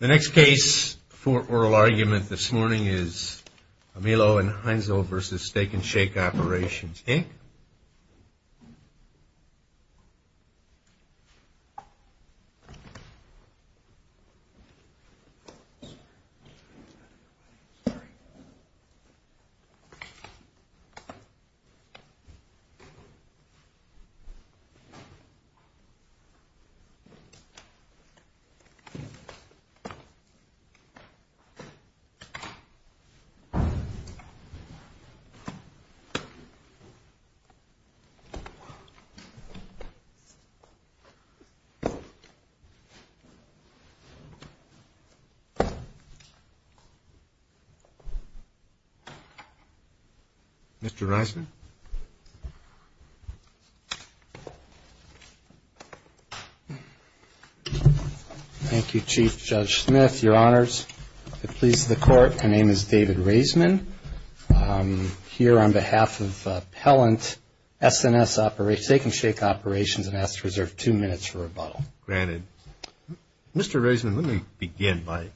The next case for oral argument this morning is Mielo v. Heinzl v. Steakn Shake Operations, Inc. Mielo v. Steakn Shake Thank you, Chief Judge Smith, Your Honors. It pleases the Court, my name is David Raisman. I'm here on behalf of Pellant S&S Steakn Shake Operations and ask to reserve two minutes for rebuttal. Granted. Mr. Raisman, let me begin by,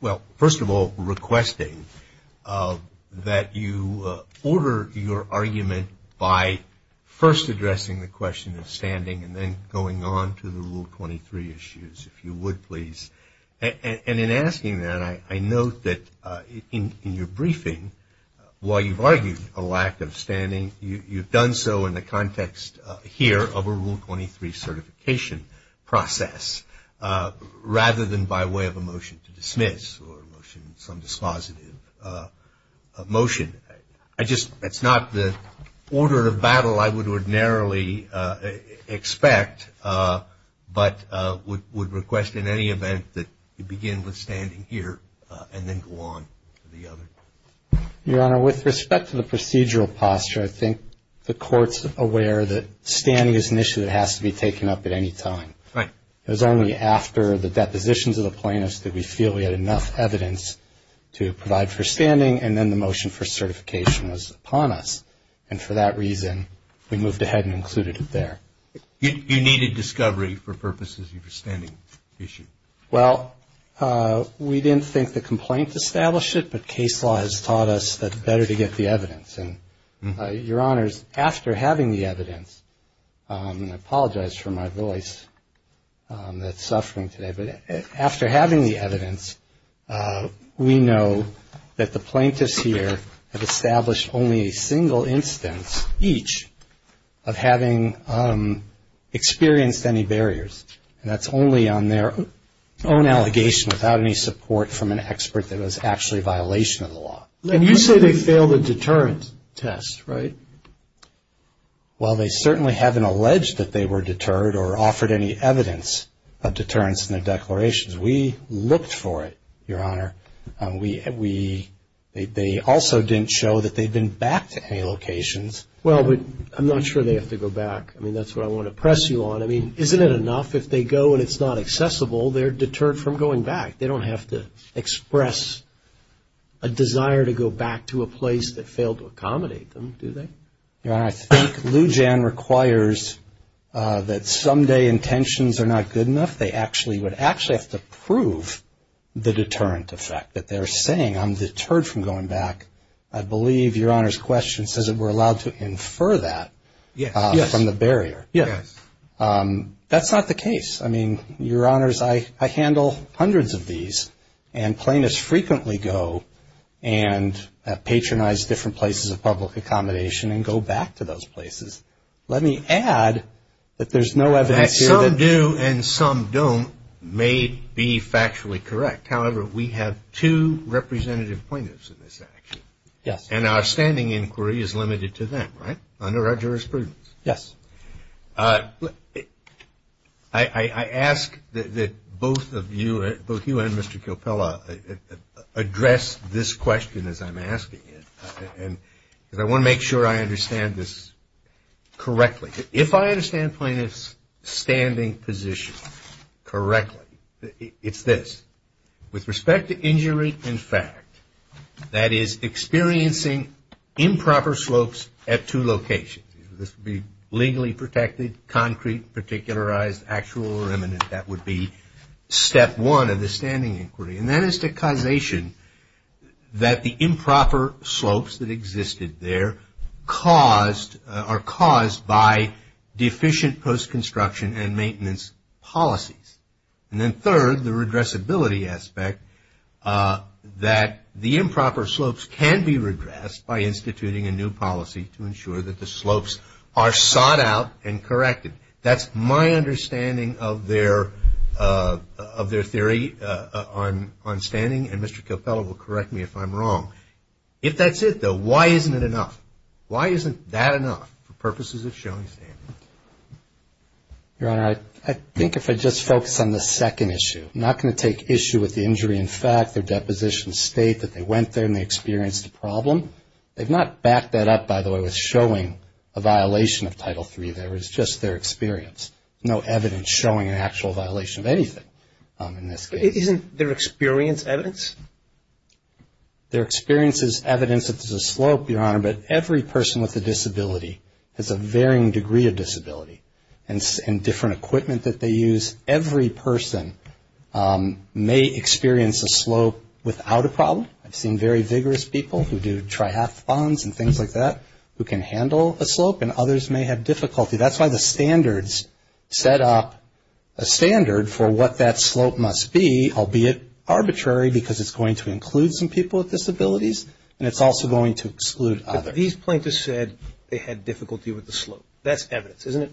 well, first of all requesting that you order your argument by first addressing the question of standing and then going on to the Rule 23 issues, if you would please. And in asking that, I note that in your briefing, while you've argued a lack of standing, you've done so in the context here of a Rule 23 certification process, rather than by way of a motion to dismiss or some dispositive motion. I just, it's not the order of battle I would ordinarily expect, but would request in any event that you begin with standing here and then go on to the other. Your Honor, with respect to the procedural posture, I think the Court's aware that standing is an issue that has to be taken up at any time. Right. It was only after the depositions of the plaintiffs that we feel we had enough evidence to provide for standing and then the motion for certification was upon us. And for that reason, we moved ahead and included it there. You needed discovery for purposes of your standing issue. Well, we didn't think the complaint established it, but case law has taught us that it's better to get the evidence. And, Your Honor, after having the evidence, and I apologize for my voice that's suffering today, but after having the evidence, we know that the plaintiffs here have established only a single instance, each of having experienced any barriers, and that's only on their own allegation without any support from an expert that was actually a violation of the law. And you say they failed a deterrent test, right? Well, they certainly haven't alleged that they were deterred or offered any evidence of deterrence in their declarations. We looked for it, Your Honor. They also didn't show that they'd been back to any locations. Well, but I'm not sure they have to go back. I mean, that's what I want to press you on. I mean, isn't it enough if they go and it's not accessible, they're deterred from going back. They don't have to express a desire to go back to a place that failed to accommodate them, do they? Your Honor, I think Lou Jan requires that someday intentions are not good enough. They actually would have to prove the deterrent effect that they're saying, I'm deterred from going back. I believe Your Honor's question says that we're allowed to infer that from the barrier. Yes. That's not the case. I mean, Your Honors, I handle hundreds of these. And plaintiffs frequently go and patronize different places of public accommodation and go back to those places. Let me add that there's no evidence here. Some do and some don't may be factually correct. However, we have two representative plaintiffs in this action. Yes. And our standing inquiry is limited to them, right, under our jurisprudence. Yes. Well, I ask that both of you, both you and Mr. Coppella, address this question as I'm asking it. And I want to make sure I understand this correctly. If I understand plaintiffs' standing position correctly, it's this. With respect to injury and fact, that is experiencing improper slopes at two locations. This would be legally protected, concrete, particularized, actual or eminent. That would be step one of the standing inquiry. And that is the causation that the improper slopes that existed there are caused by deficient post-construction and maintenance policies. And then third, the regressibility aspect that the improper slopes can be regressed by instituting a new policy to ensure that the slopes are sought out and corrected. That's my understanding of their theory on standing, and Mr. Coppella will correct me if I'm wrong. If that's it, though, why isn't it enough? Why isn't that enough for purposes of showing standing? Your Honor, I think if I just focus on the second issue, I'm not going to take issue with the injury and fact, their deposition state, that they went there and they experienced the problem. They've not backed that up, by the way, with showing a violation of Title III. That was just their experience. No evidence showing an actual violation of anything in this case. Isn't their experience evidence? Their experience is evidence that there's a slope, Your Honor, but every person with a disability has a varying degree of disability and different equipment that they use. Every person may experience a slope without a problem. I've seen very vigorous people who do triathlons and things like that who can handle a slope, and others may have difficulty. That's why the standards set up a standard for what that slope must be, albeit arbitrary, because it's going to include some people with disabilities, and it's also going to exclude others. But these plaintiffs said they had difficulty with the slope. That's evidence, isn't it?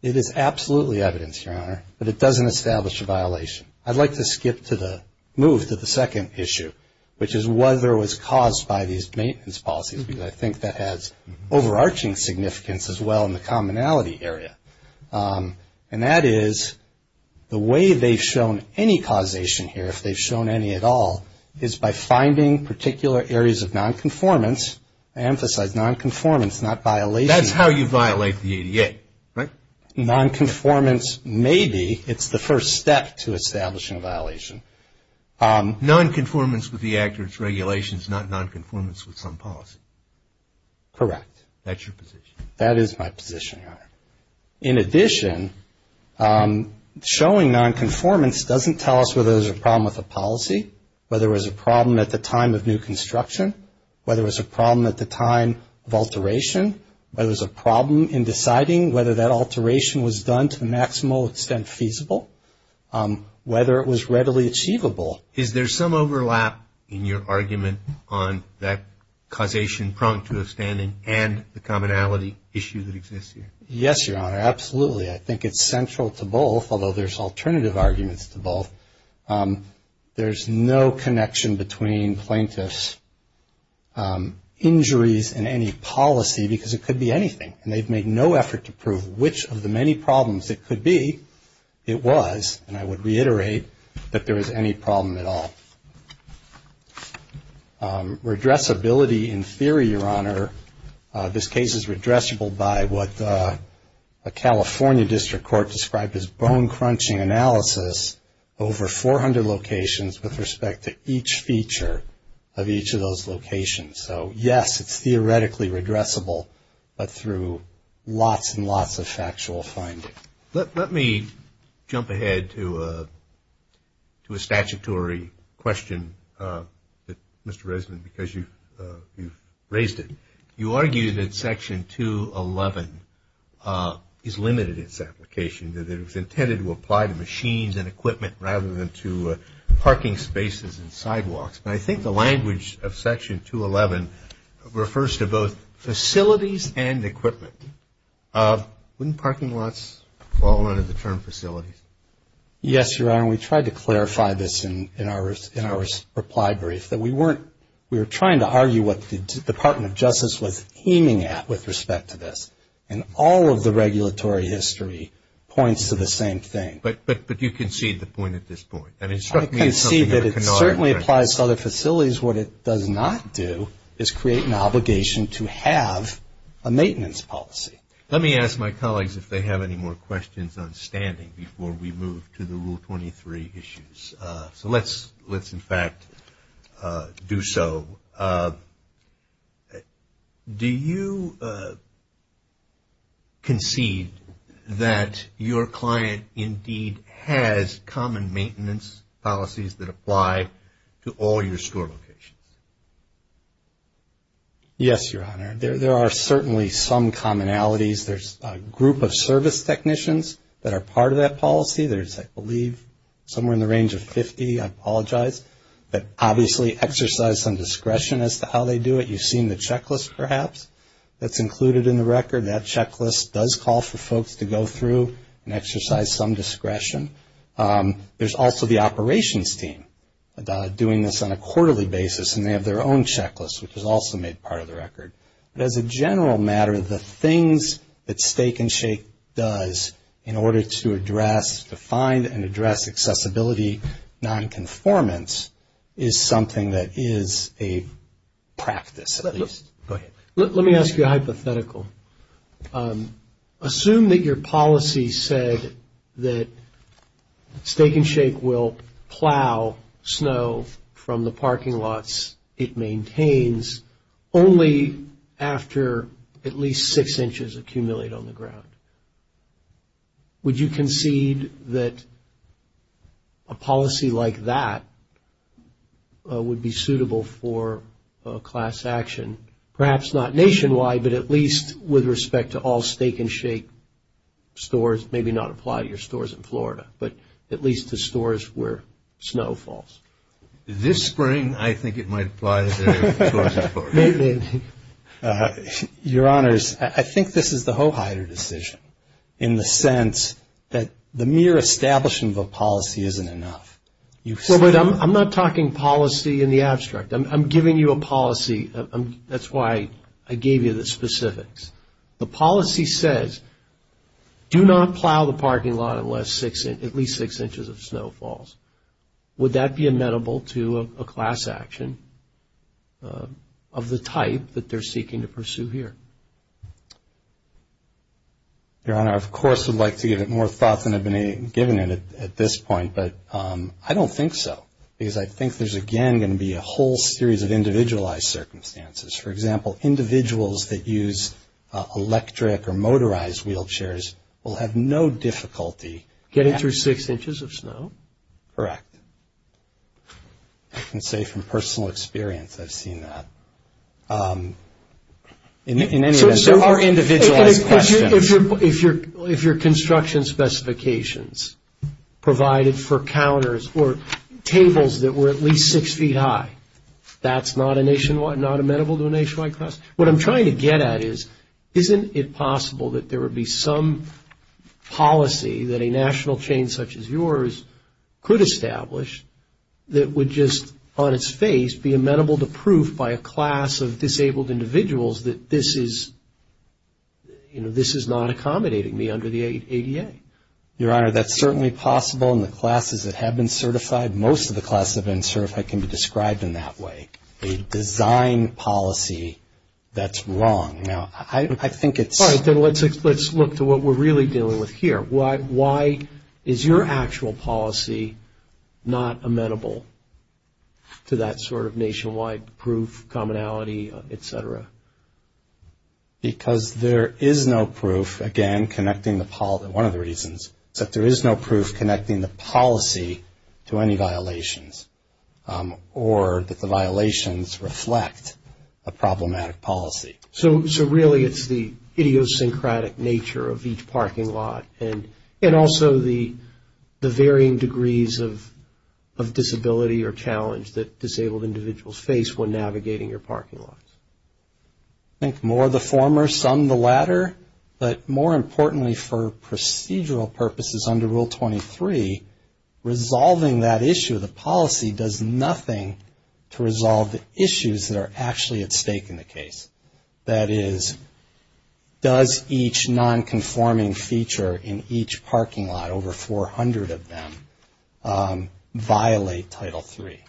It is absolutely evidence, Your Honor, but it doesn't establish a violation. I'd like to skip to the move to the second issue, which is whether it was caused by these maintenance policies, because I think that has overarching significance as well in the commonality area. And that is the way they've shown any causation here, if they've shown any at all, is by finding particular areas of nonconformance. I emphasize nonconformance, not violation. That's how you violate the ADA, right? Nonconformance may be. It's the first step to establishing a violation. Nonconformance with the Act or its regulations, not nonconformance with some policy. Correct. That's your position. That is my position, Your Honor. In addition, showing nonconformance doesn't tell us whether there's a problem with the policy, whether there was a problem at the time of new construction, whether there was a problem at the time of alteration, whether there was a problem in deciding whether that alteration was done to the maximal extent feasible, whether it was readily achievable. Is there some overlap in your argument on that causation prong to a standing and the commonality issue that exists here? Yes, Your Honor. Absolutely. I think it's central to both, although there's alternative arguments to both. There's no connection between plaintiff's injuries and any policy because it could be anything, and they've made no effort to prove which of the many problems it could be it was, and I would reiterate that there is any problem at all. Redressability in theory, Your Honor, this case is redressable by what a California district court described as bone crunching analysis over 400 locations with respect to each feature of each of those locations. So, yes, it's theoretically redressable, but through lots and lots of factual findings. Let me jump ahead to a statutory question, Mr. Reisman, because you've raised it. You argued that Section 211 is limited in its application, that it was intended to apply to machines and equipment rather than to parking spaces and sidewalks. And I think the language of Section 211 refers to both facilities and equipment. Wouldn't parking lots fall under the term facilities? Yes, Your Honor. We tried to clarify this in our reply brief, that we were trying to argue what the Department of Justice was aiming at with respect to this, and all of the regulatory history points to the same thing. But you concede the point at this point. I concede that it certainly applies to other facilities. What it does not do is create an obligation to have a maintenance policy. Let me ask my colleagues if they have any more questions on standing before we move to the Rule 23 issues. So let's in fact do so. Do you concede that your client indeed has common maintenance policies that apply to all your store locations? Yes, Your Honor. There are certainly some commonalities. There's a group of service technicians that are part of that policy. There's, I believe, somewhere in the range of 50, I apologize, that obviously exercise some discretion as to how they do it. You've seen the checklist, perhaps, that's included in the record. That checklist does call for folks to go through and exercise some discretion. There's also the operations team doing this on a quarterly basis, and they have their own checklist, which is also made part of the record. But as a general matter, the things that Steak and Shake does in order to address, to find and address accessibility nonconformance is something that is a practice, at least. Go ahead. Let me ask you a hypothetical. Assume that your policy said that Steak and Shake will plow snow from the parking lots it maintains only after at least six inches accumulate on the ground. Would you concede that a policy like that would be suitable for class action, perhaps not nationwide, but at least with respect to all Steak and Shake stores, maybe not apply to your stores in Florida, but at least to stores where snow falls? This spring, I think it might apply to stores in Florida. Your Honors, I think this is the ho-hider decision in the sense that the mere establishment of a policy isn't enough. I'm not talking policy in the abstract. I'm giving you a policy. That's why I gave you the specifics. The policy says do not plow the parking lot unless at least six inches of snow falls. Would that be amenable to a class action of the type that they're seeking to pursue here? Your Honor, I, of course, would like to give it more thought than I've been given at this point, but I don't think so because I think there's, again, going to be a whole series of individualized circumstances. For example, individuals that use electric or motorized wheelchairs will have no difficulty. Getting through six inches of snow? Correct. I can say from personal experience I've seen that. In any event, there are individualized questions. If your construction specifications provided for counters or tables that were at least six feet high, that's not amenable to a nationwide class? What I'm trying to get at is isn't it possible that there would be some policy that a national chain such as yours could establish that would just on its face be amenable to proof by a class of disabled individuals that this is, you know, this is not accommodating me under the ADA? Your Honor, that's certainly possible in the classes that have been certified. Most of the classes that have been certified can be described in that way. A design policy that's wrong. Now, I think it's. All right, then let's look to what we're really dealing with here. Why is your actual policy not amenable to that sort of nationwide proof, commonality, et cetera? Because there is no proof, again, connecting the policy. One of the reasons is that there is no proof connecting the policy to any violations or that the violations reflect a problematic policy. So really it's the idiosyncratic nature of each parking lot and also the varying degrees of disability or challenge that disabled individuals face when navigating your parking lot. I think more the former, some the latter, but more importantly for procedural purposes under Rule 23, resolving that issue of the policy does nothing to resolve the issues that are actually at stake in the case. That is, does each nonconforming feature in each parking lot, over 400 of them, violate Title III?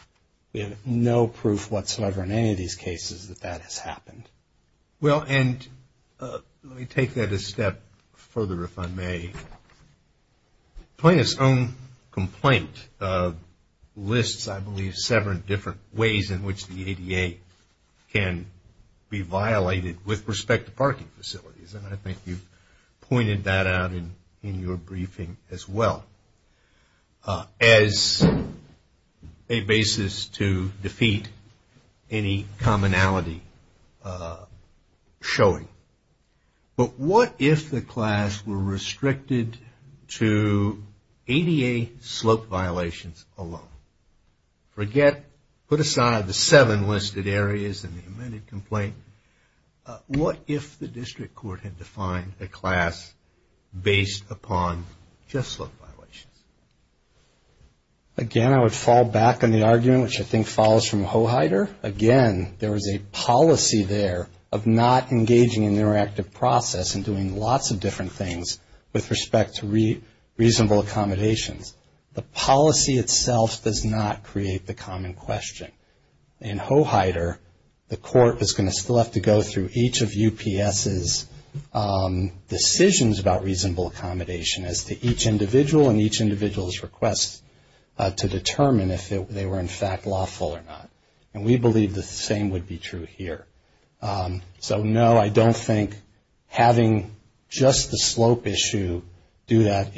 We have no proof whatsoever in any of these cases that that has happened. Well, and let me take that a step further, if I may. Plaintiff's own complaint lists, I believe, several different ways in which the ADA can be violated with respect to parking facilities. And I think you've pointed that out in your briefing as well, as a basis to defeat any commonality showing. But what if the class were restricted to ADA slope violations alone? Forget, put aside the seven listed areas in the amended complaint. What if the district court had defined a class based upon just slope violations? Again, I would fall back on the argument, which I think follows from Hoheider. Again, there is a policy there of not engaging in the interactive process and doing lots of different things with respect to reasonable accommodations. The policy itself does not create the common question. In Hoheider, the court is going to still have to go through each of UPS's decisions about reasonable accommodation as to each individual and each individual's request to determine if they were in fact lawful or not. And we believe the same would be true here. So, no, I don't think having just the slope issue do that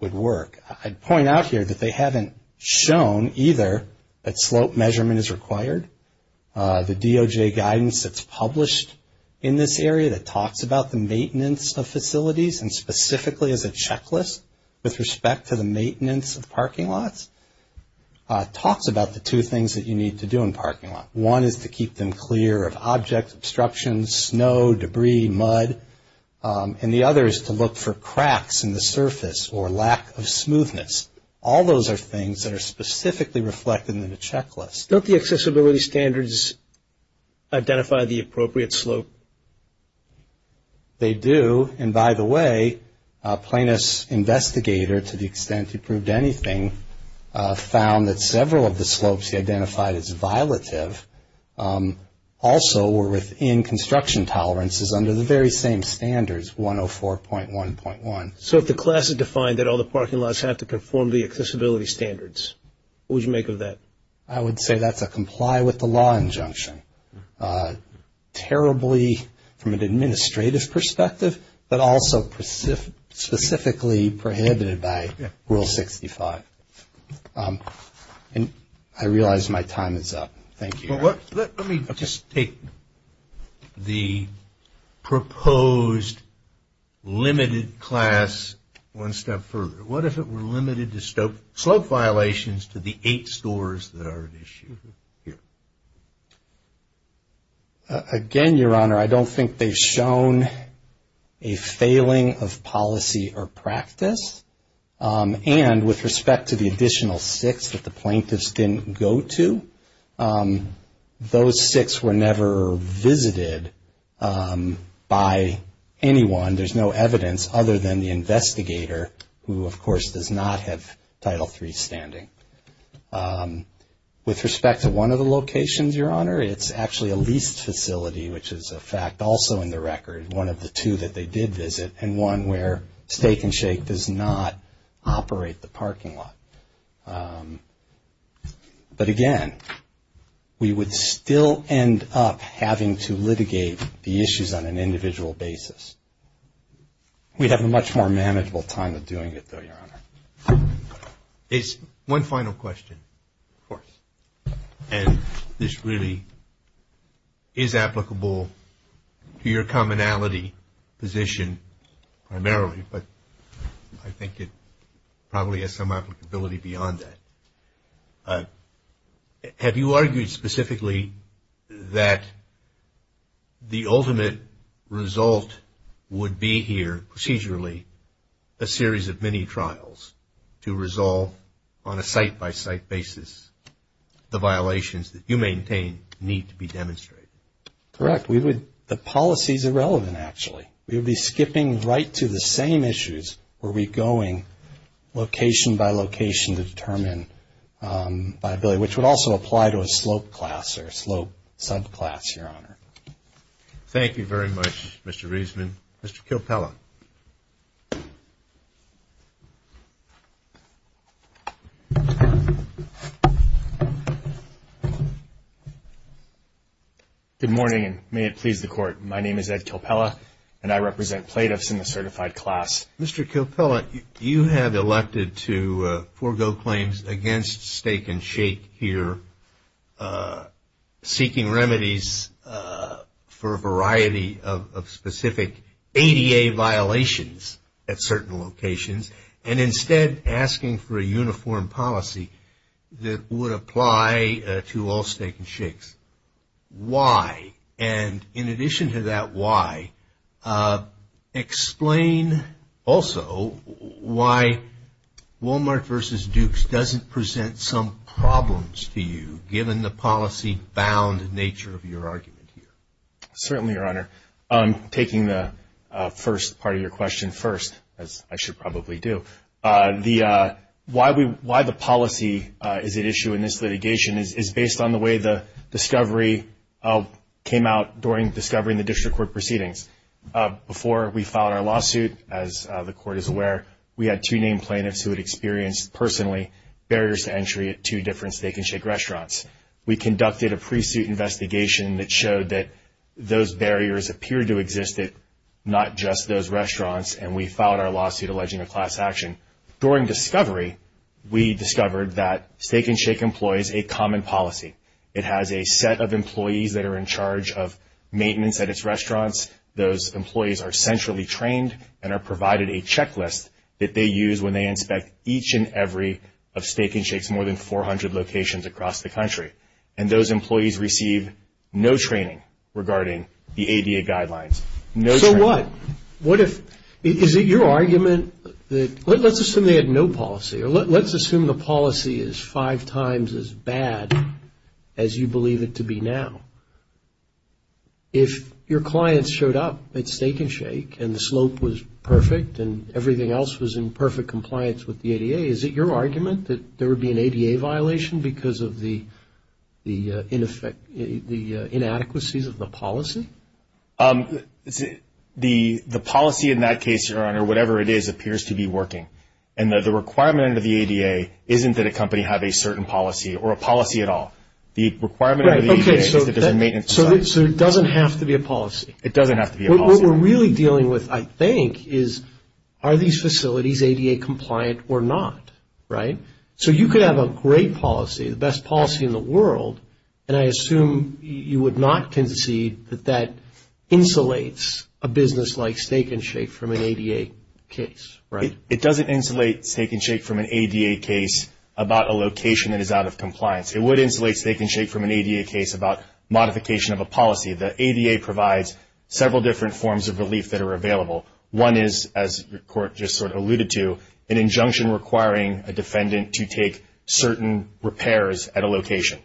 would work. I'd point out here that they haven't shown either that slope measurement is required. The DOJ guidance that's published in this area that talks about the maintenance of facilities and specifically as a checklist with respect to the maintenance of parking lots, talks about the two things that you need to do in a parking lot. One is to keep them clear of object obstructions, snow, debris, mud. And the other is to look for cracks in the surface or lack of smoothness. All those are things that are specifically reflected in the checklist. Don't the accessibility standards identify the appropriate slope? They do. And by the way, Plaintiff's investigator, to the extent he proved anything, found that several of the slopes he identified as violative also were within construction tolerances under the very same standards, 104.1.1. So if the class has defined that all the parking lots have to conform to the accessibility standards, what would you make of that? I would say that's a comply with the law injunction. Terribly from an administrative perspective, but also specifically prohibited by Rule 65. And I realize my time is up. Thank you. Let me just take the proposed limited class one step further. What if it were limited to slope violations to the eight scores that are at issue here? Again, Your Honor, I don't think they've shown a failing of policy or practice. And with respect to the additional six that the plaintiffs didn't go to, those six were never visited by anyone, there's no evidence, other than the investigator who, of course, does not have Title III standing. With respect to one of the locations, Your Honor, it's actually a leased facility, which is a fact also in the record, one of the two that they did visit, and one where Steak and Shake does not operate the parking lot. But again, we would still end up having to litigate the issues on an individual basis. We'd have a much more manageable time of doing it, though, Your Honor. One final question. Of course. And this really is applicable to your commonality position primarily, but I think it probably has some applicability beyond that. Have you argued specifically that the ultimate result would be here, procedurally, a series of mini-trials to resolve on a site-by-site basis the violations that you maintain need to be demonstrated? Correct. The policy is irrelevant, actually. We would be skipping right to the same issues where we're going location-by-location to determine viability, which would also apply to a slope class or slope subclass, Your Honor. Thank you very much, Mr. Reisman. Mr. Kilpella. My name is Ed Kilpella, and I represent plaintiffs in the certified class. Mr. Kilpella, you have elected to forego claims against Steak and Shake here, seeking remedies for a variety of specific ADA violations at certain locations, and instead asking for a uniform policy that would apply to all Steak and Shakes. Why? And in addition to that why, explain also why Walmart versus Dukes doesn't present some problems to you, given the policy-bound nature of your argument here. Certainly, Your Honor. Taking the first part of your question first, as I should probably do, why the policy is at issue in this litigation is based on the way the discovery came out during the discovery in the district court proceedings. Before we filed our lawsuit, as the Court is aware, we had two named plaintiffs who had experienced, personally, barriers to entry at two different Steak and Shake restaurants. We conducted a pre-suit investigation that showed that those barriers appeared to exist at not just those restaurants, and we filed our lawsuit alleging a class action. During discovery, we discovered that Steak and Shake employs a common policy. It has a set of employees that are in charge of maintenance at its restaurants. Those employees are centrally trained and are provided a checklist that they use when they inspect each and every of Steak and Shake's more than 400 locations across the country. And those employees receive no training regarding the ADA guidelines. So what? What if, is it your argument that, let's assume they had no policy, or let's assume the policy is five times as bad as you believe it to be now. If your clients showed up at Steak and Shake and the slope was perfect and everything else was in perfect compliance with the ADA, is it your argument that there would be an ADA violation because of the inadequacies of the policy? The policy in that case, Your Honor, whatever it is, appears to be working. And the requirement of the ADA isn't that a company have a certain policy or a policy at all. The requirement of the ADA is that there's a maintenance site. So it doesn't have to be a policy. It doesn't have to be a policy. What we're really dealing with, I think, is are these facilities ADA compliant or not, right? So you could have a great policy, the best policy in the world, and I assume you would not concede that that insulates a business like Steak and Shake from an ADA case, right? It doesn't insulate Steak and Shake from an ADA case about a location that is out of compliance. It would insulate Steak and Shake from an ADA case about modification of a policy. The ADA provides several different forms of relief that are available. One is, as the Court just sort of alluded to, an injunction requiring a defendant to take certain repairs at a location.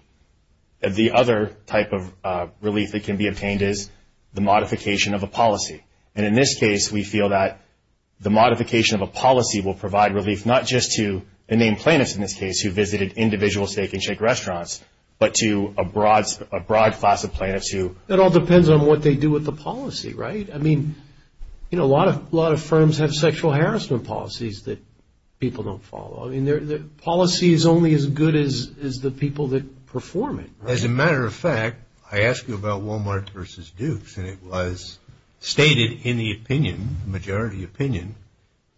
The other type of relief that can be obtained is the modification of a policy. And in this case, we feel that the modification of a policy will provide relief not just to the main plaintiffs, in this case, who visited individual Steak and Shake restaurants, but to a broad class of plaintiffs who... It all depends on what they do with the policy, right? I mean, you know, a lot of firms have sexual harassment policies that people don't follow. I mean, policy is only as good as the people that perform it, right? As a matter of fact, I asked you about Walmart versus Dukes, and it was stated in the opinion, the majority opinion,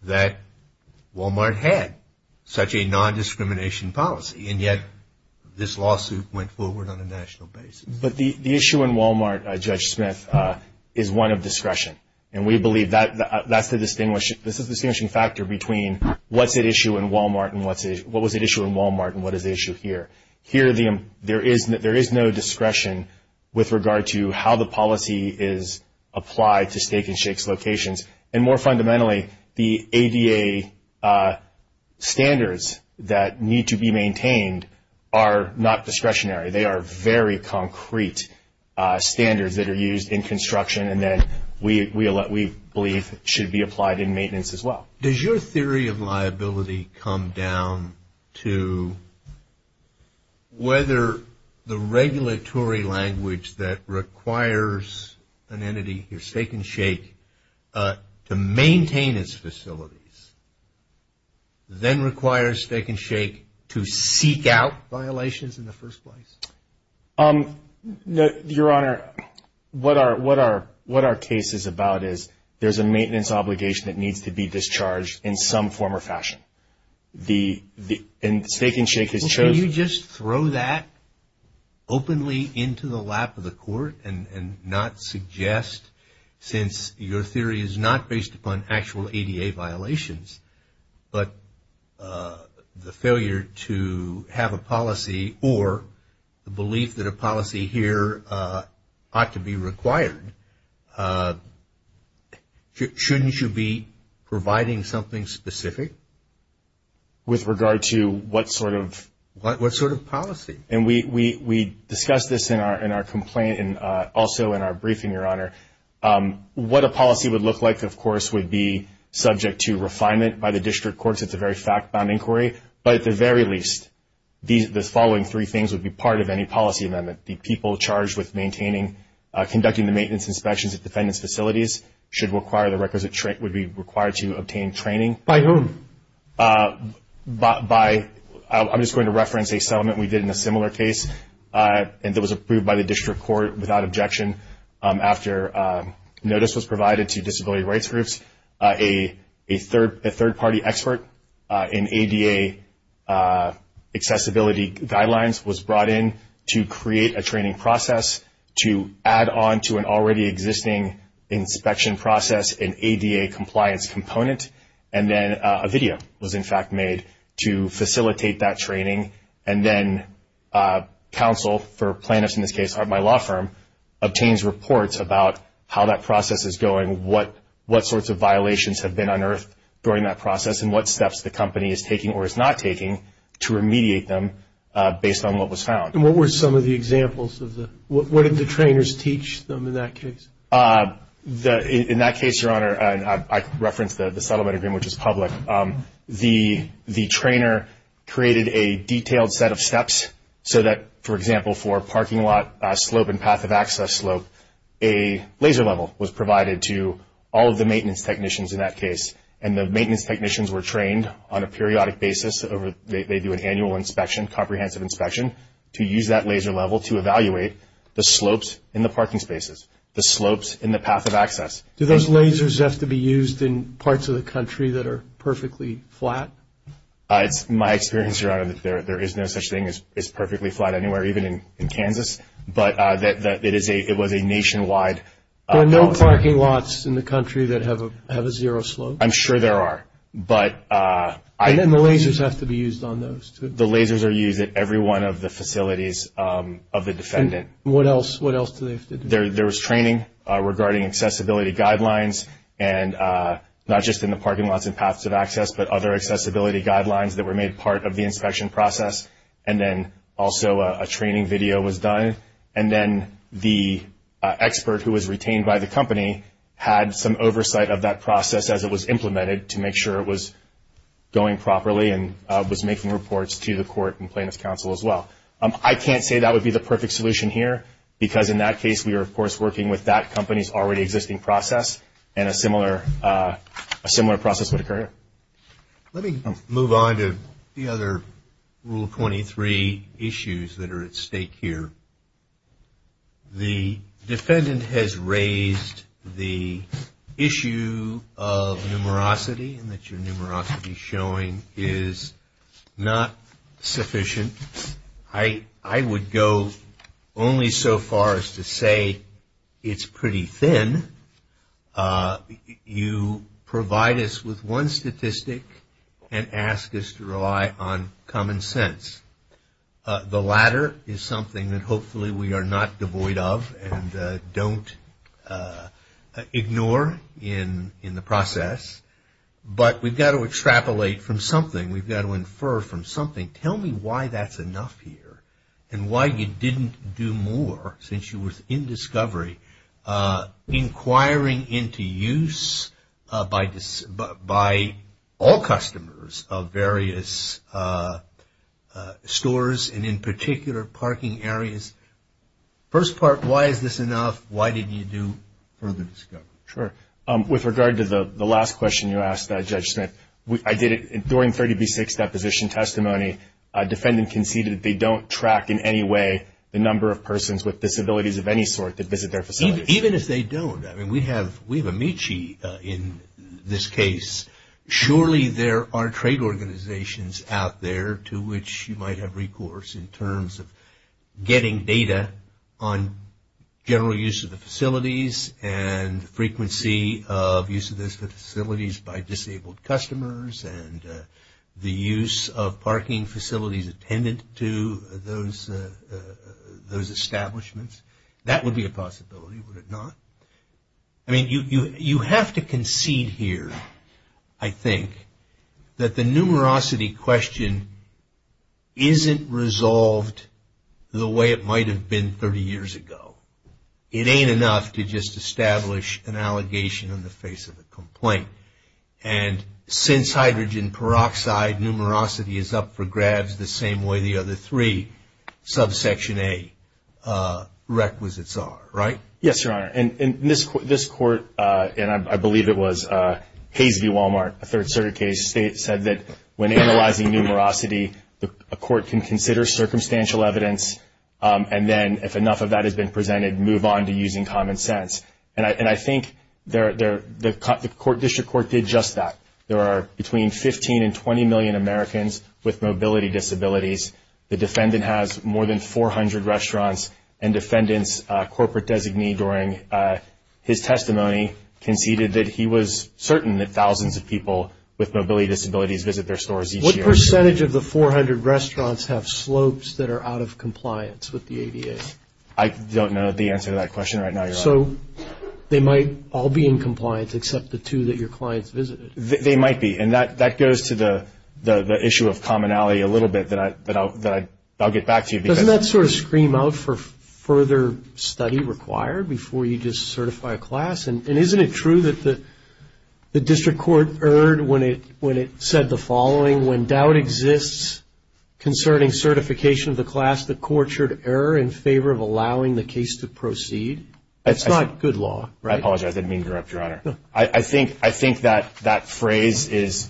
that Walmart had such a nondiscrimination policy, and yet this lawsuit went forward on a national basis. But the issue in Walmart, Judge Smith, is one of discretion, and we believe that's the distinguishing factor between what's at issue in Walmart and what was at issue in Walmart and what is at issue here. Here, there is no discretion with regard to how the policy is applied to Steak and Shake's locations. And more fundamentally, the ADA standards that need to be maintained are not discretionary. They are very concrete standards that are used in construction, and that we believe should be applied in maintenance as well. Does your theory of liability come down to whether the regulatory language that requires an entity, your Steak and Shake, to maintain its facilities, then requires Steak and Shake to seek out violations in the first place? Your Honor, what our case is about is there's a maintenance obligation that needs to be discharged in some form or fashion. And Steak and Shake has chosen to openly into the lap of the court and not suggest, since your theory is not based upon actual ADA violations, but the failure to have a policy or the belief that a policy here ought to be required, shouldn't you be providing something specific? With regard to what sort of? What sort of policy? And we discussed this in our complaint and also in our briefing, your Honor. What a policy would look like, of course, would be subject to refinement by the district courts. It's a very fact-bound inquiry. But at the very least, the following three things would be part of any policy amendment. The people charged with maintaining, conducting the maintenance inspections at defendant's facilities should require the requisite, would be required to obtain training. By whom? By, I'm just going to reference a settlement we did in a similar case, and that was approved by the district court without objection after notice was provided to disability rights groups. A third-party expert in ADA accessibility guidelines was brought in to create a training process to add on to an already existing inspection process, an ADA compliance component. And then a video was, in fact, made to facilitate that training. And then counsel for plaintiffs in this case, my law firm, obtains reports about how that process is going, what sorts of violations have been unearthed during that process, and what steps the company is taking or is not taking to remediate them based on what was found. And what were some of the examples? What did the trainers teach them in that case? In that case, Your Honor, I referenced the settlement agreement, which was public. The trainer created a detailed set of steps so that, for example, for a parking lot slope and path of access slope, a laser level was provided to all of the maintenance technicians in that case, and the maintenance technicians were trained on a periodic basis. They do an annual inspection, comprehensive inspection, to use that laser level to evaluate the slopes in the parking spaces, the slopes in the path of access. Do those lasers have to be used in parts of the country that are perfectly flat? It's my experience, Your Honor, that there is no such thing as perfectly flat anywhere, even in Kansas. But it was a nationwide. There are no parking lots in the country that have a zero slope? I'm sure there are. And then the lasers have to be used on those? The lasers are used at every one of the facilities of the defendant. What else? There was training regarding accessibility guidelines, and not just in the parking lots and paths of access, but other accessibility guidelines that were made part of the inspection process. And then also a training video was done. And then the expert who was retained by the company had some oversight of that process as it was implemented to make sure it was going properly and was making reports to the court and plaintiff's counsel as well. I can't say that would be the perfect solution here, because in that case we are, of course, working with that company's already existing process, and a similar process would occur. Let me move on to the other Rule 23 issues that are at stake here. The defendant has raised the issue of numerosity, and that your numerosity showing is not sufficient. I would go only so far as to say it's pretty thin. You provide us with one statistic and ask us to rely on common sense. The latter is something that hopefully we are not devoid of and don't ignore in the process, but we've got to extrapolate from something. We've got to infer from something. Tell me why that's enough here, and why you didn't do more since you were in discovery, inquiring into use by all customers of various stores and, in particular, parking areas. First part, why is this enough? Why didn't you do further discovery? Sure. With regard to the last question you asked, Judge Smith, I did it during 30B6 deposition testimony. A defendant conceded they don't track in any way the number of persons with disabilities of any sort that visit their facilities. Even if they don't, I mean, we have Amici in this case. Surely there are trade organizations out there to which you might have recourse in terms of getting data on general use of the facilities and frequency of use of those facilities by disabled customers and the use of parking facilities attendant to those establishments. That would be a possibility, would it not? I mean, you have to concede here, I think, that the numerosity question isn't resolved the way it might have been 30 years ago. It ain't enough to just establish an allegation in the face of a complaint. And since hydrogen peroxide numerosity is up for grabs the same way the other three, subsection A, requisites are, right? Yes, Your Honor. And this court, and I believe it was Hayes v. Walmart, a third circuit case, said that when analyzing numerosity a court can consider circumstantial evidence and then if enough of that has been presented move on to using common sense. And I think the court district court did just that. There are between 15 and 20 million Americans with mobility disabilities. The defendant has more than 400 restaurants and defendant's corporate designee during his testimony conceded that he was certain that thousands of people with mobility disabilities visit their stores each year. What percentage of the 400 restaurants have slopes that are out of compliance with the ADA? I don't know the answer to that question right now, Your Honor. So they might all be in compliance except the two that your clients visited? They might be. And that goes to the issue of commonality a little bit that I'll get back to you. Doesn't that sort of scream out for further study required before you just certify a class? And isn't it true that the district court erred when it said the following, when doubt exists concerning certification of the class, the court should err in favor of allowing the case to proceed? That's not good law, right? I apologize. I didn't mean to interrupt, Your Honor. No. I think that phrase is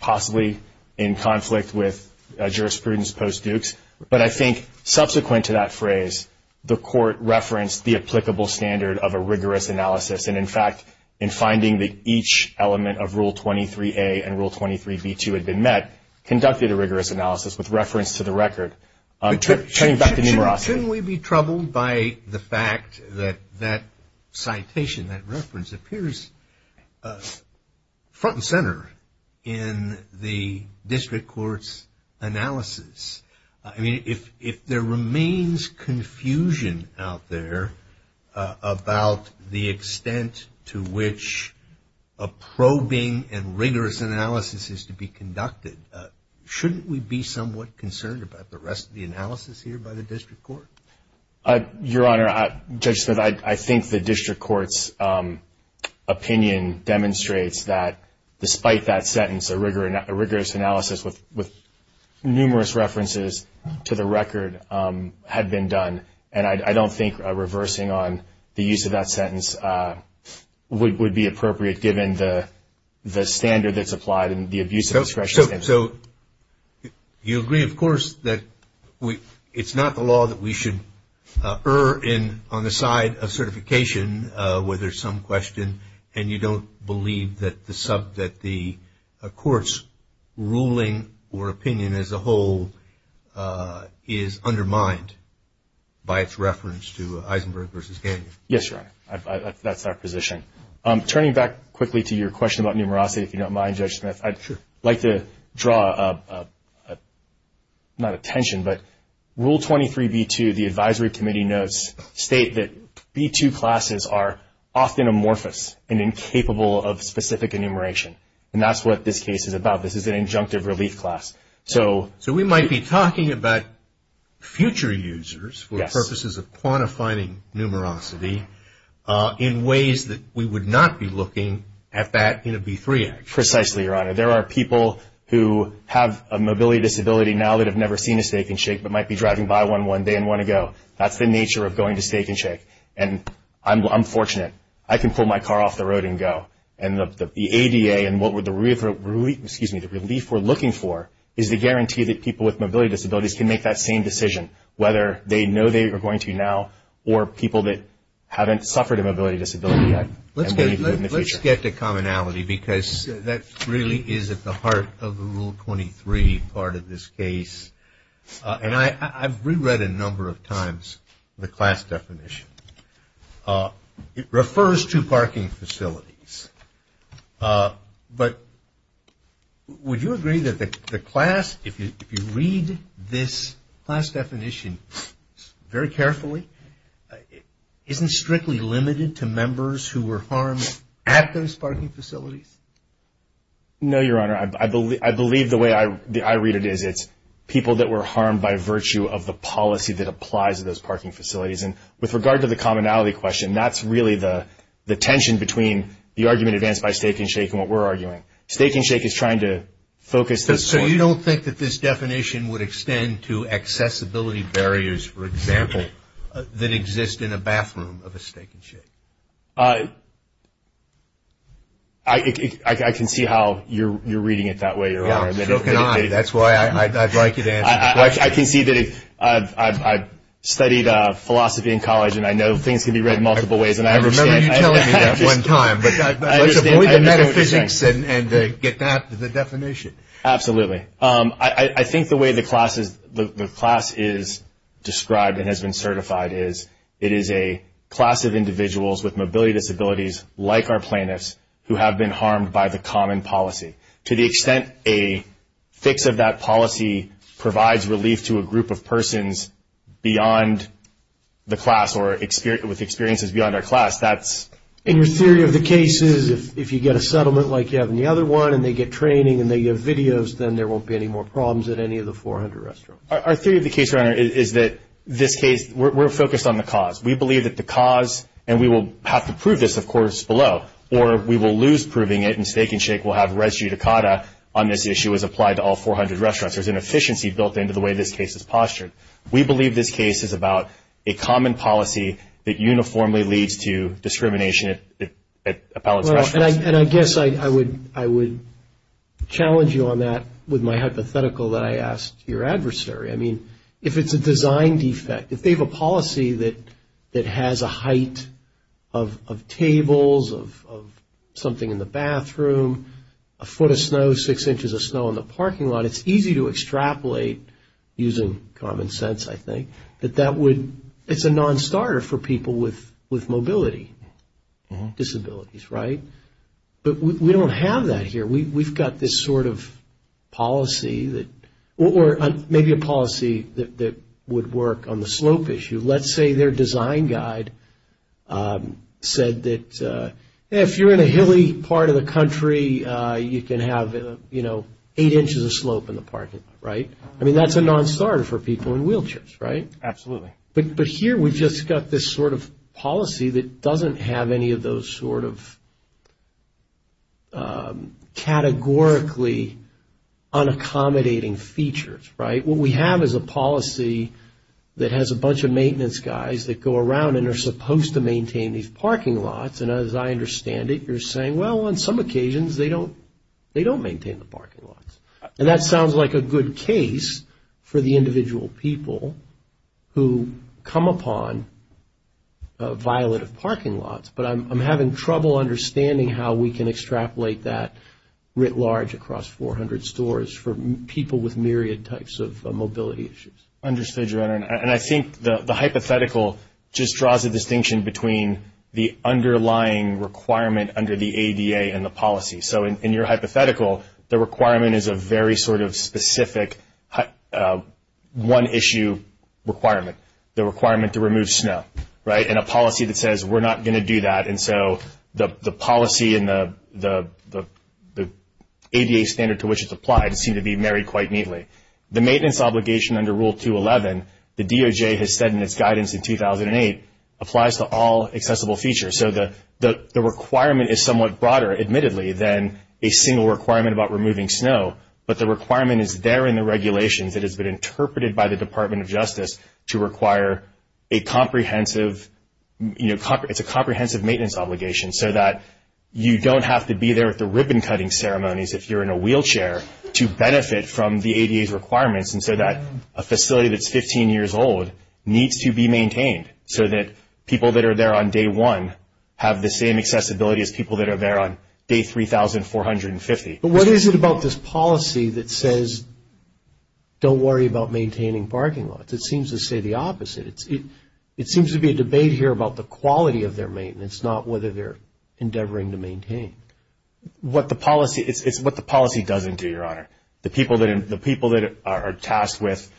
possibly in conflict with jurisprudence post-Dukes. But I think subsequent to that phrase, the court referenced the applicable standard of a rigorous analysis. And, in fact, in finding that each element of Rule 23A and Rule 23B2 had been met, conducted a rigorous analysis with reference to the record. Turning back to numerosity. Shouldn't we be troubled by the fact that that citation, that reference, appears front and center in the district court's analysis? I mean, if there remains confusion out there about the extent to which a probing and rigorous analysis is to be conducted, shouldn't we be somewhat concerned about the rest of the analysis here by the district court? Your Honor, Judge Smith, I think the district court's opinion demonstrates that, despite that sentence, a rigorous analysis with numerous references to the record had been done. And I don't think reversing on the use of that sentence would be appropriate, given the standard that's applied and the abuse of discretion. So you agree, of course, that it's not the law that we should err on the side of certification where there's some question and you don't believe that the court's ruling or opinion as a whole is undermined by its reference to Eisenberg versus Gagne. Yes, Your Honor. That's our position. Turning back quickly to your question about numerosity, if you don't mind, Judge Smith, I'd like to draw not attention, but Rule 23B2, the advisory committee notes, state that B2 classes are often amorphous and incapable of specific enumeration. And that's what this case is about. This is an injunctive relief class. So we might be talking about future users for purposes of quantifying numerosity in ways that we would not be looking at that in a B3 act. Precisely, Your Honor. There are people who have a mobility disability now that have never seen a stake-and-shake but might be driving by one one day and want to go. That's the nature of going to stake-and-shake. And I'm fortunate. I can pull my car off the road and go. And the ADA and the relief we're looking for is the guarantee that people with mobility disabilities can make that same decision, whether they know they are going to now or people that haven't suffered a mobility disability yet. Let's get to commonality because that really is at the heart of the Rule 23 part of this case. And I've reread a number of times the class definition. It refers to parking facilities. But would you agree that the class, if you read this class definition very carefully, isn't strictly limited to members who were harmed at those parking facilities? No, Your Honor. I believe the way I read it is it's people that were harmed by virtue of the policy that applies to those parking facilities. And with regard to the commonality question, that's really the tension between the argument advanced by stake-and-shake and what we're arguing. Stake-and-shake is trying to focus this point. So you don't think that this definition would extend to accessibility barriers, for example, that exist in a bathroom of a stake-and-shake? I can see how you're reading it that way, Your Honor. That's why I'd like you to answer the question. I can see that I've studied philosophy in college, and I know things can be read multiple ways. I remember you telling me that one time. But let's avoid the metaphysics and get back to the definition. Absolutely. I think the way the class is described and has been certified is it is a class of individuals with mobility disabilities, like our plaintiffs, who have been harmed by the common policy. To the extent a fix of that policy provides relief to a group of persons beyond the class or with experiences beyond our class, that's... And your theory of the case is if you get a settlement like you have in the other one and they get training and they get videos, then there won't be any more problems at any of the 400 restaurants. Our theory of the case, Your Honor, is that this case, we're focused on the cause. We believe that the cause, and we will have to prove this, of course, below, or we will lose proving it and Steak and Shake will have res judicata on this issue as applied to all 400 restaurants. There's an efficiency built into the way this case is postured. We believe this case is about a common policy that uniformly leads to discrimination at appellate restaurants. And I guess I would challenge you on that with my hypothetical that I asked your adversary. I mean, if it's a design defect, if they have a policy that has a height of tables, of something in the bathroom, a foot of snow, six inches of snow in the parking lot, it's easy to extrapolate using common sense, I think, that that would... It's a non-starter for people with mobility disabilities, right? But we don't have that here. We've got this sort of policy that... Or maybe a policy that would work on the slope issue. Let's say their design guide said that if you're in a hilly part of the country, you can have, you know, eight inches of slope in the parking lot, right? I mean, that's a non-starter for people in wheelchairs, right? Absolutely. But here we've just got this sort of policy that doesn't have any of those sort of categorically unaccommodating features, right? What we have is a policy that has a bunch of maintenance guys that go around and are supposed to maintain these parking lots. And as I understand it, you're saying, well, on some occasions they don't maintain the parking lots. And that sounds like a good case for the individual people who come upon violative parking lots. But I'm having trouble understanding how we can extrapolate that writ large across 400 stores for people with myriad types of mobility issues. Understood, Your Honor. And I think the hypothetical just draws a distinction between the underlying requirement under the ADA and the policy. So in your hypothetical, the requirement is a very sort of specific one-issue requirement, the requirement to remove snow, right, and a policy that says we're not going to do that. And so the policy and the ADA standard to which it's applied seem to be married quite neatly. The maintenance obligation under Rule 211, the DOJ has said in its guidance in 2008, applies to all accessible features. So the requirement is somewhat broader, admittedly, than a single requirement about removing snow, but the requirement is there in the regulations that has been interpreted by the Department of Justice to require a comprehensive, you know, it's a comprehensive maintenance obligation so that you don't have to be there at the ribbon-cutting ceremonies if you're in a wheelchair to benefit from the ADA's requirements and so that a facility that's 15 years old needs to be maintained so that people that are there on day one have the same accessibility as people that are there on day 3,450. But what is it about this policy that says don't worry about maintaining parking lots? It seems to say the opposite. It seems to be a debate here about the quality of their maintenance, not whether they're endeavoring to maintain. What the policy doesn't do, Your Honor. The people that are tasked with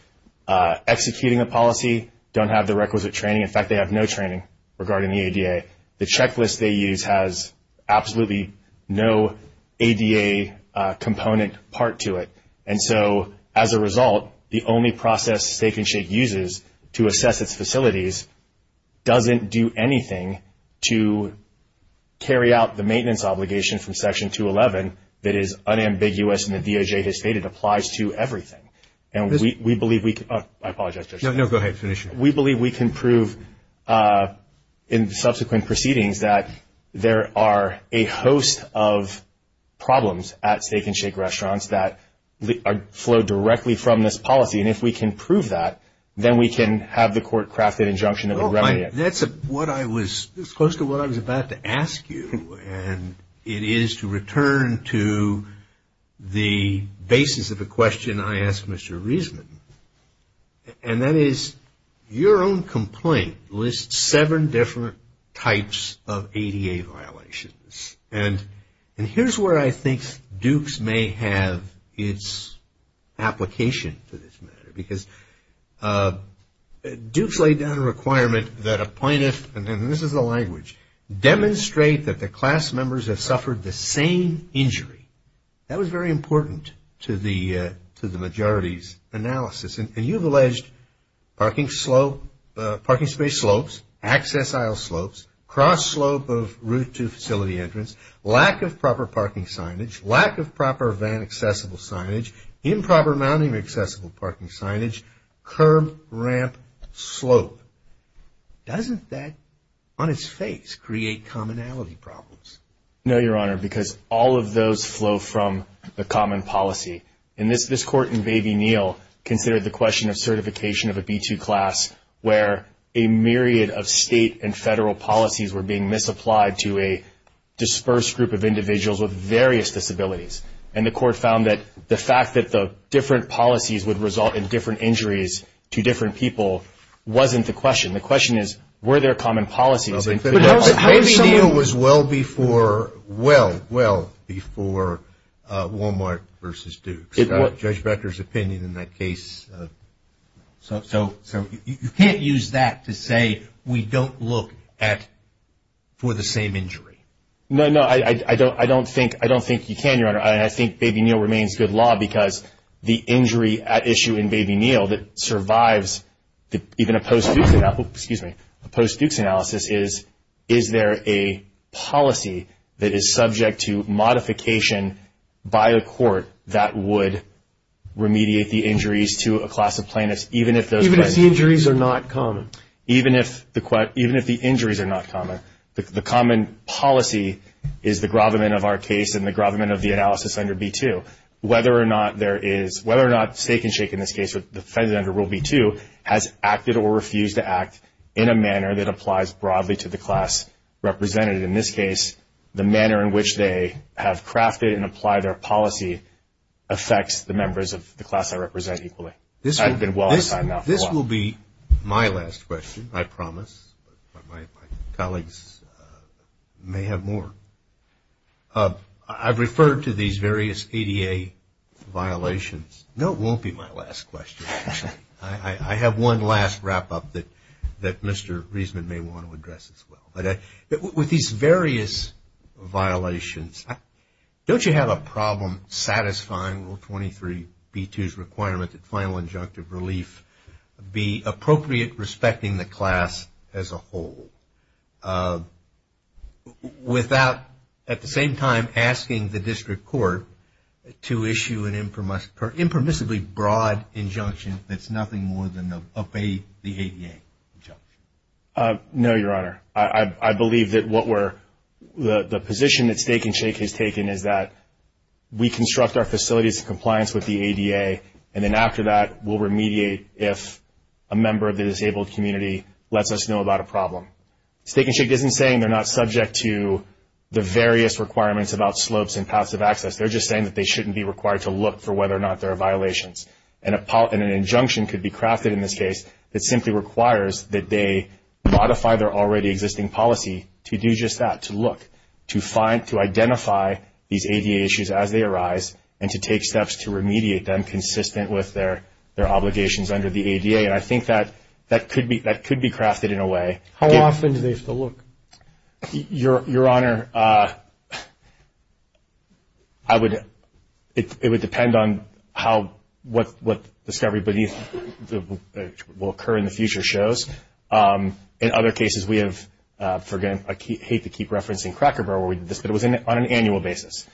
executing the policy don't have the requisite training. In fact, they have no training regarding the ADA. The checklist they use has absolutely no ADA component part to it. And so as a result, the only process Stake and Shake uses to assess its facilities doesn't do anything to carry out the maintenance obligation from Section 211 that is unambiguous in the DOJ history. It applies to everything. And we believe we can prove in subsequent proceedings that there are a host of problems at Stake and Shake restaurants that flow directly from this policy. And if we can prove that, then we can have the court craft an injunction of a remedy. That's close to what I was about to ask you. And it is to return to the basis of the question I asked Mr. Reisman. And that is your own complaint lists seven different types of ADA violations. And here's where I think Dukes may have its application for this matter. Because Dukes laid down a requirement that a plaintiff, and this is the language, demonstrate that the class members have suffered the same injury. That was very important to the majority's analysis. And you've alleged parking space slopes, access aisle slopes, cross slope of route to facility entrance, lack of proper parking signage, lack of proper van accessible signage, improper mounting of accessible parking signage, curb, ramp, slope. Doesn't that, on its face, create commonality problems? No, Your Honor, because all of those flow from the common policy. And this court in Baby Neal considered the question of certification of a B-2 class where a myriad of state and federal policies were being misapplied to a dispersed group of individuals with various disabilities. And the court found that the fact that the different policies would result in different injuries to different people wasn't the question. The question is, were there common policies? Baby Neal was well before, well, well before Walmart versus Dukes. Judge Becker's opinion in that case. So you can't use that to say we don't look for the same injury. No, no. I don't think you can, Your Honor. I think Baby Neal remains good law because the injury at issue in Baby Neal that survives even a post-Dukes analysis is, is there a policy that is subject to modification by a court that would remediate the injuries to a class of plaintiffs, even if those. Even if the injuries are not common. Even if the injuries are not common. The common policy is the gravamen of our case and the gravamen of the analysis under B-2. So whether or not there is, whether or not Steak and Shake in this case, the defendant under Rule B-2, has acted or refused to act in a manner that applies broadly to the class represented. In this case, the manner in which they have crafted and applied their policy affects the members of the class they represent equally. I've been well on time now. This will be my last question, I promise. My colleagues may have more. I've referred to these various ADA violations. No, it won't be my last question. I have one last wrap-up that Mr. Reisman may want to address as well. With these various violations, don't you have a problem satisfying Rule 23 B-2's requirement that final injunctive relief be appropriate, respecting the class as a whole? Without, at the same time, asking the district court to issue an impermissibly broad injunction that's nothing more than the ADA. No, Your Honor. I believe that what we're, the position that Steak and Shake has taken is that we construct our facilities in compliance with the ADA, and then after that we'll remediate if a member of the disabled community lets us know about a problem. Steak and Shake isn't saying they're not subject to the various requirements about slopes and paths of access. They're just saying that they shouldn't be required to look for whether or not there are violations. And an injunction could be crafted in this case that simply requires that they modify their already existing policy to do just that, to identify these ADA issues as they arise and to take steps to remediate them consistent with their obligations under the ADA. And I think that could be crafted in a way. How often do they have to look? Your Honor, I would, it would depend on how, what discovery beneath will occur in the future shows. In other cases, we have, again, I hate to keep referencing Cracker Barrel where we did this, but it was on an annual basis.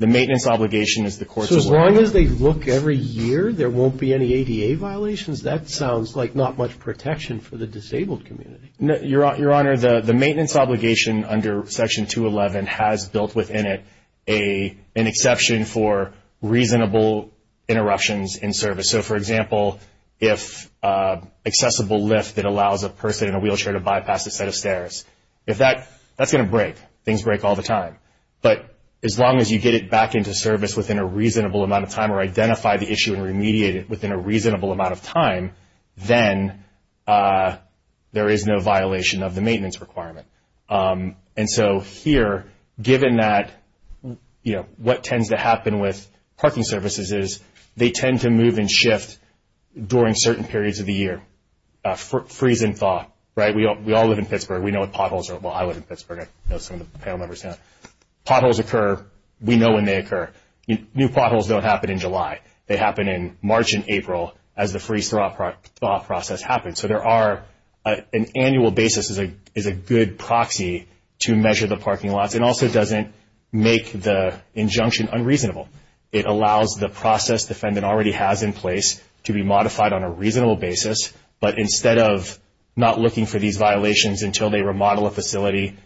The maintenance obligation is the courts. So as long as they look every year, there won't be any ADA violations? That sounds like not much protection for the disabled community. Your Honor, the maintenance obligation under Section 211 has built within it an exception for reasonable interruptions in service. So, for example, if accessible lift that allows a person in a wheelchair to bypass a set of stairs, if that, that's going to break. Things break all the time. But as long as you get it back into service within a reasonable amount of time or identify the issue and remediate it within a reasonable amount of time, then there is no violation of the maintenance requirement. And so here, given that, you know, what tends to happen with parking services is they tend to move and shift during certain periods of the year. Freeze and thaw, right? We all live in Pittsburgh. We know what potholes are. Well, I live in Pittsburgh. I know some of the panel members now. Potholes occur. We know when they occur. New potholes don't happen in July. They happen in March and April as the freeze-thaw process happens. So there are an annual basis is a good proxy to measure the parking lots. It also doesn't make the injunction unreasonable. It allows the process defendant already has in place to be modified on a reasonable basis. But instead of not looking for these violations until they remodel a facility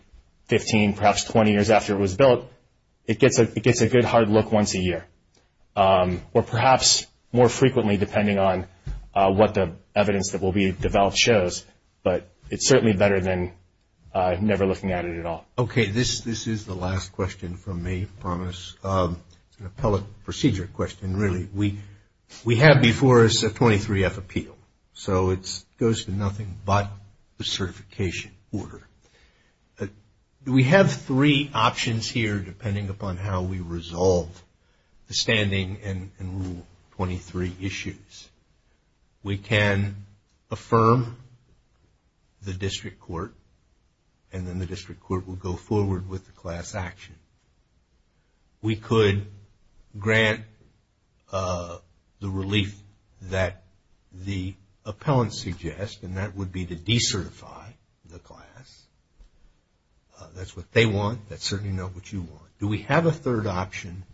15, perhaps 20 years after it was built, it gets a good hard look once a year or perhaps more frequently depending on what the evidence that will be developed shows, but it's certainly better than never looking at it at all. Okay, this is the last question from me, I promise. It's an appellate procedure question, really. We have before us a 23-F appeal, so it goes to nothing but the certification order. We have three options here depending upon how we resolve the standing and Rule 23 issues. We can affirm the district court, and then the district court will go forward with the class action. We could grant the relief that the appellant suggests, and that would be to decertify the class. That's what they want. That's certainly not what you want. Do we have a third option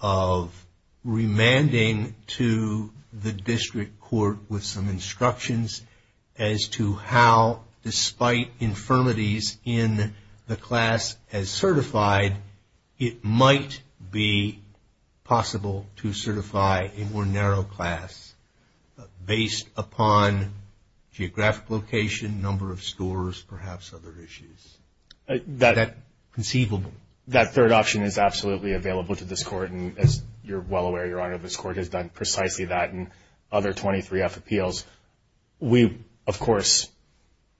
of remanding to the district court with some instructions as to how, despite infirmities in the class as certified, it might be possible to certify a more narrow class based upon geographic location, number of stores, perhaps other issues? Is that conceivable? That third option is absolutely available to this Court, and as you're well aware, Your Honor, this Court has done precisely that in other 23-F appeals. We, of course,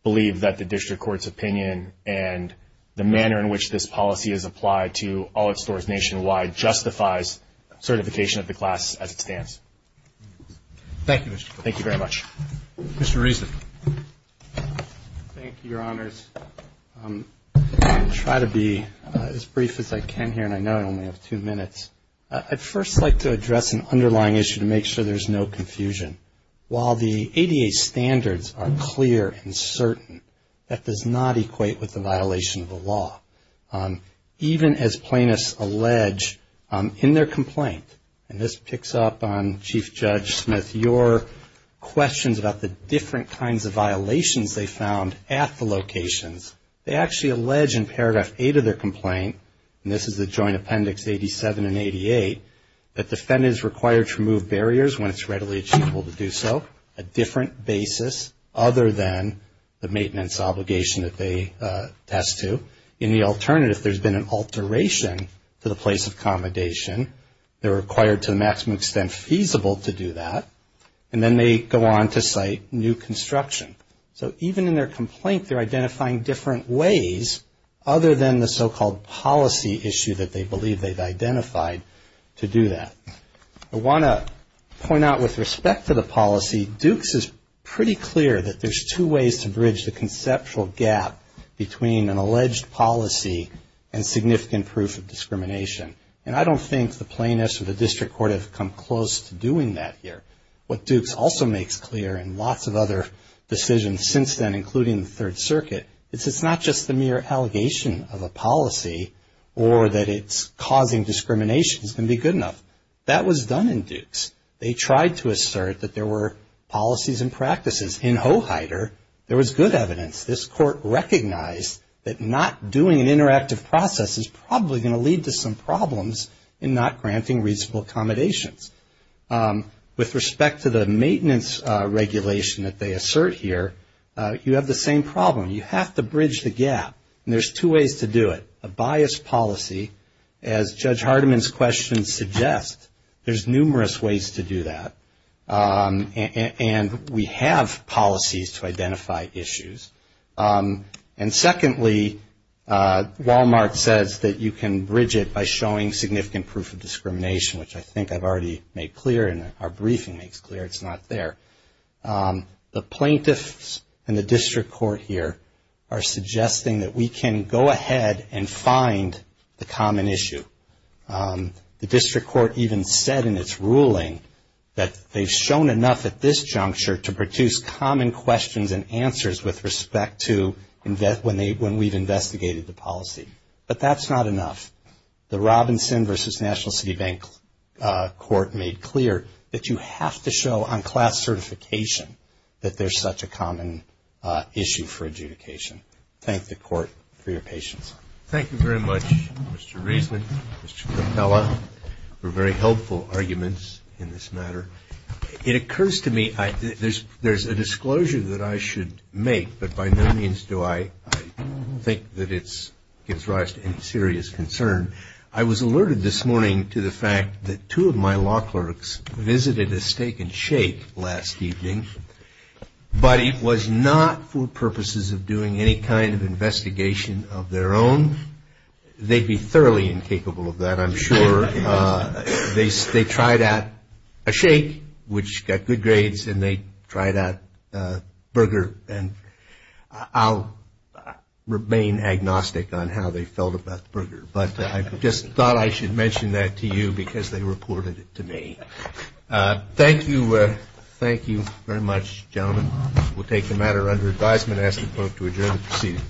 believe that the district court's opinion and the manner in which this policy is applied to all its stores nationwide justifies certification of the class as it stands. Thank you, Mr. Cooper. Thank you very much. Mr. Reason. Thank you, Your Honors. I'll try to be as brief as I can here, and I know I only have two minutes. I'd first like to address an underlying issue to make sure there's no confusion. While the ADA standards are clear and certain, that does not equate with the violation of the law. Even as plaintiffs allege in their complaint, and this picks up on Chief Judge Smith, your questions about the different kinds of violations they found at the locations. They actually allege in Paragraph 8 of their complaint, and this is the Joint Appendix 87 and 88, that defendants are required to remove barriers when it's readily achievable to do so, a different basis other than the maintenance obligation that they attest to. In the alternative, there's been an alteration to the place of accommodation. They're required to the maximum extent feasible to do that, and then they go on to cite new construction. So even in their complaint, they're identifying different ways other than the so-called policy issue that they believe they've identified to do that. I want to point out with respect to the policy, Dukes is pretty clear that there's two ways to bridge the conceptual gap between an alleged policy and significant proof of discrimination. And I don't think the plaintiffs or the district court have come close to doing that here. What Dukes also makes clear in lots of other decisions since then, including the Third Circuit, is it's not just the mere allegation of a policy or that it's causing discrimination is going to be good enough. That was done in Dukes. They tried to assert that there were policies and practices. In Hoheider, there was good evidence. This court recognized that not doing an interactive process is probably going to lead to some problems in not granting reasonable accommodations. With respect to the maintenance regulation that they assert here, you have the same problem. You have to bridge the gap, and there's two ways to do it. A biased policy, as Judge Hardiman's question suggests, there's numerous ways to do that. And we have policies to identify issues. And secondly, Walmart says that you can bridge it by showing significant proof of discrimination, which I think I've already made clear and our briefing makes clear it's not there. The plaintiffs and the district court here are suggesting that we can go ahead and find the common issue. The district court even said in its ruling that they've shown enough at this juncture to produce common questions and answers with respect to when we've investigated the policy. But that's not enough. The Robinson v. National City Bank court made clear that you have to show on class certification that there's such a common issue for adjudication. Thank the court for your patience. Thank you very much, Mr. Reisman, Mr. Capella, for very helpful arguments in this matter. It occurs to me there's a disclosure that I should make, but by no means do I think that it gives rise to any serious concern. I was alerted this morning to the fact that two of my law clerks visited a Steak and Shake last evening, but it was not for purposes of doing any kind of investigation of their own. They'd be thoroughly incapable of that, I'm sure. They tried out a shake, which got good grades, and they tried out a burger, and I'll remain agnostic on how they felt about the burger. But I just thought I should mention that to you because they reported it to me. Thank you. Thank you very much, gentlemen. We'll take the matter under advisement. I ask the clerk to adjourn the proceeding.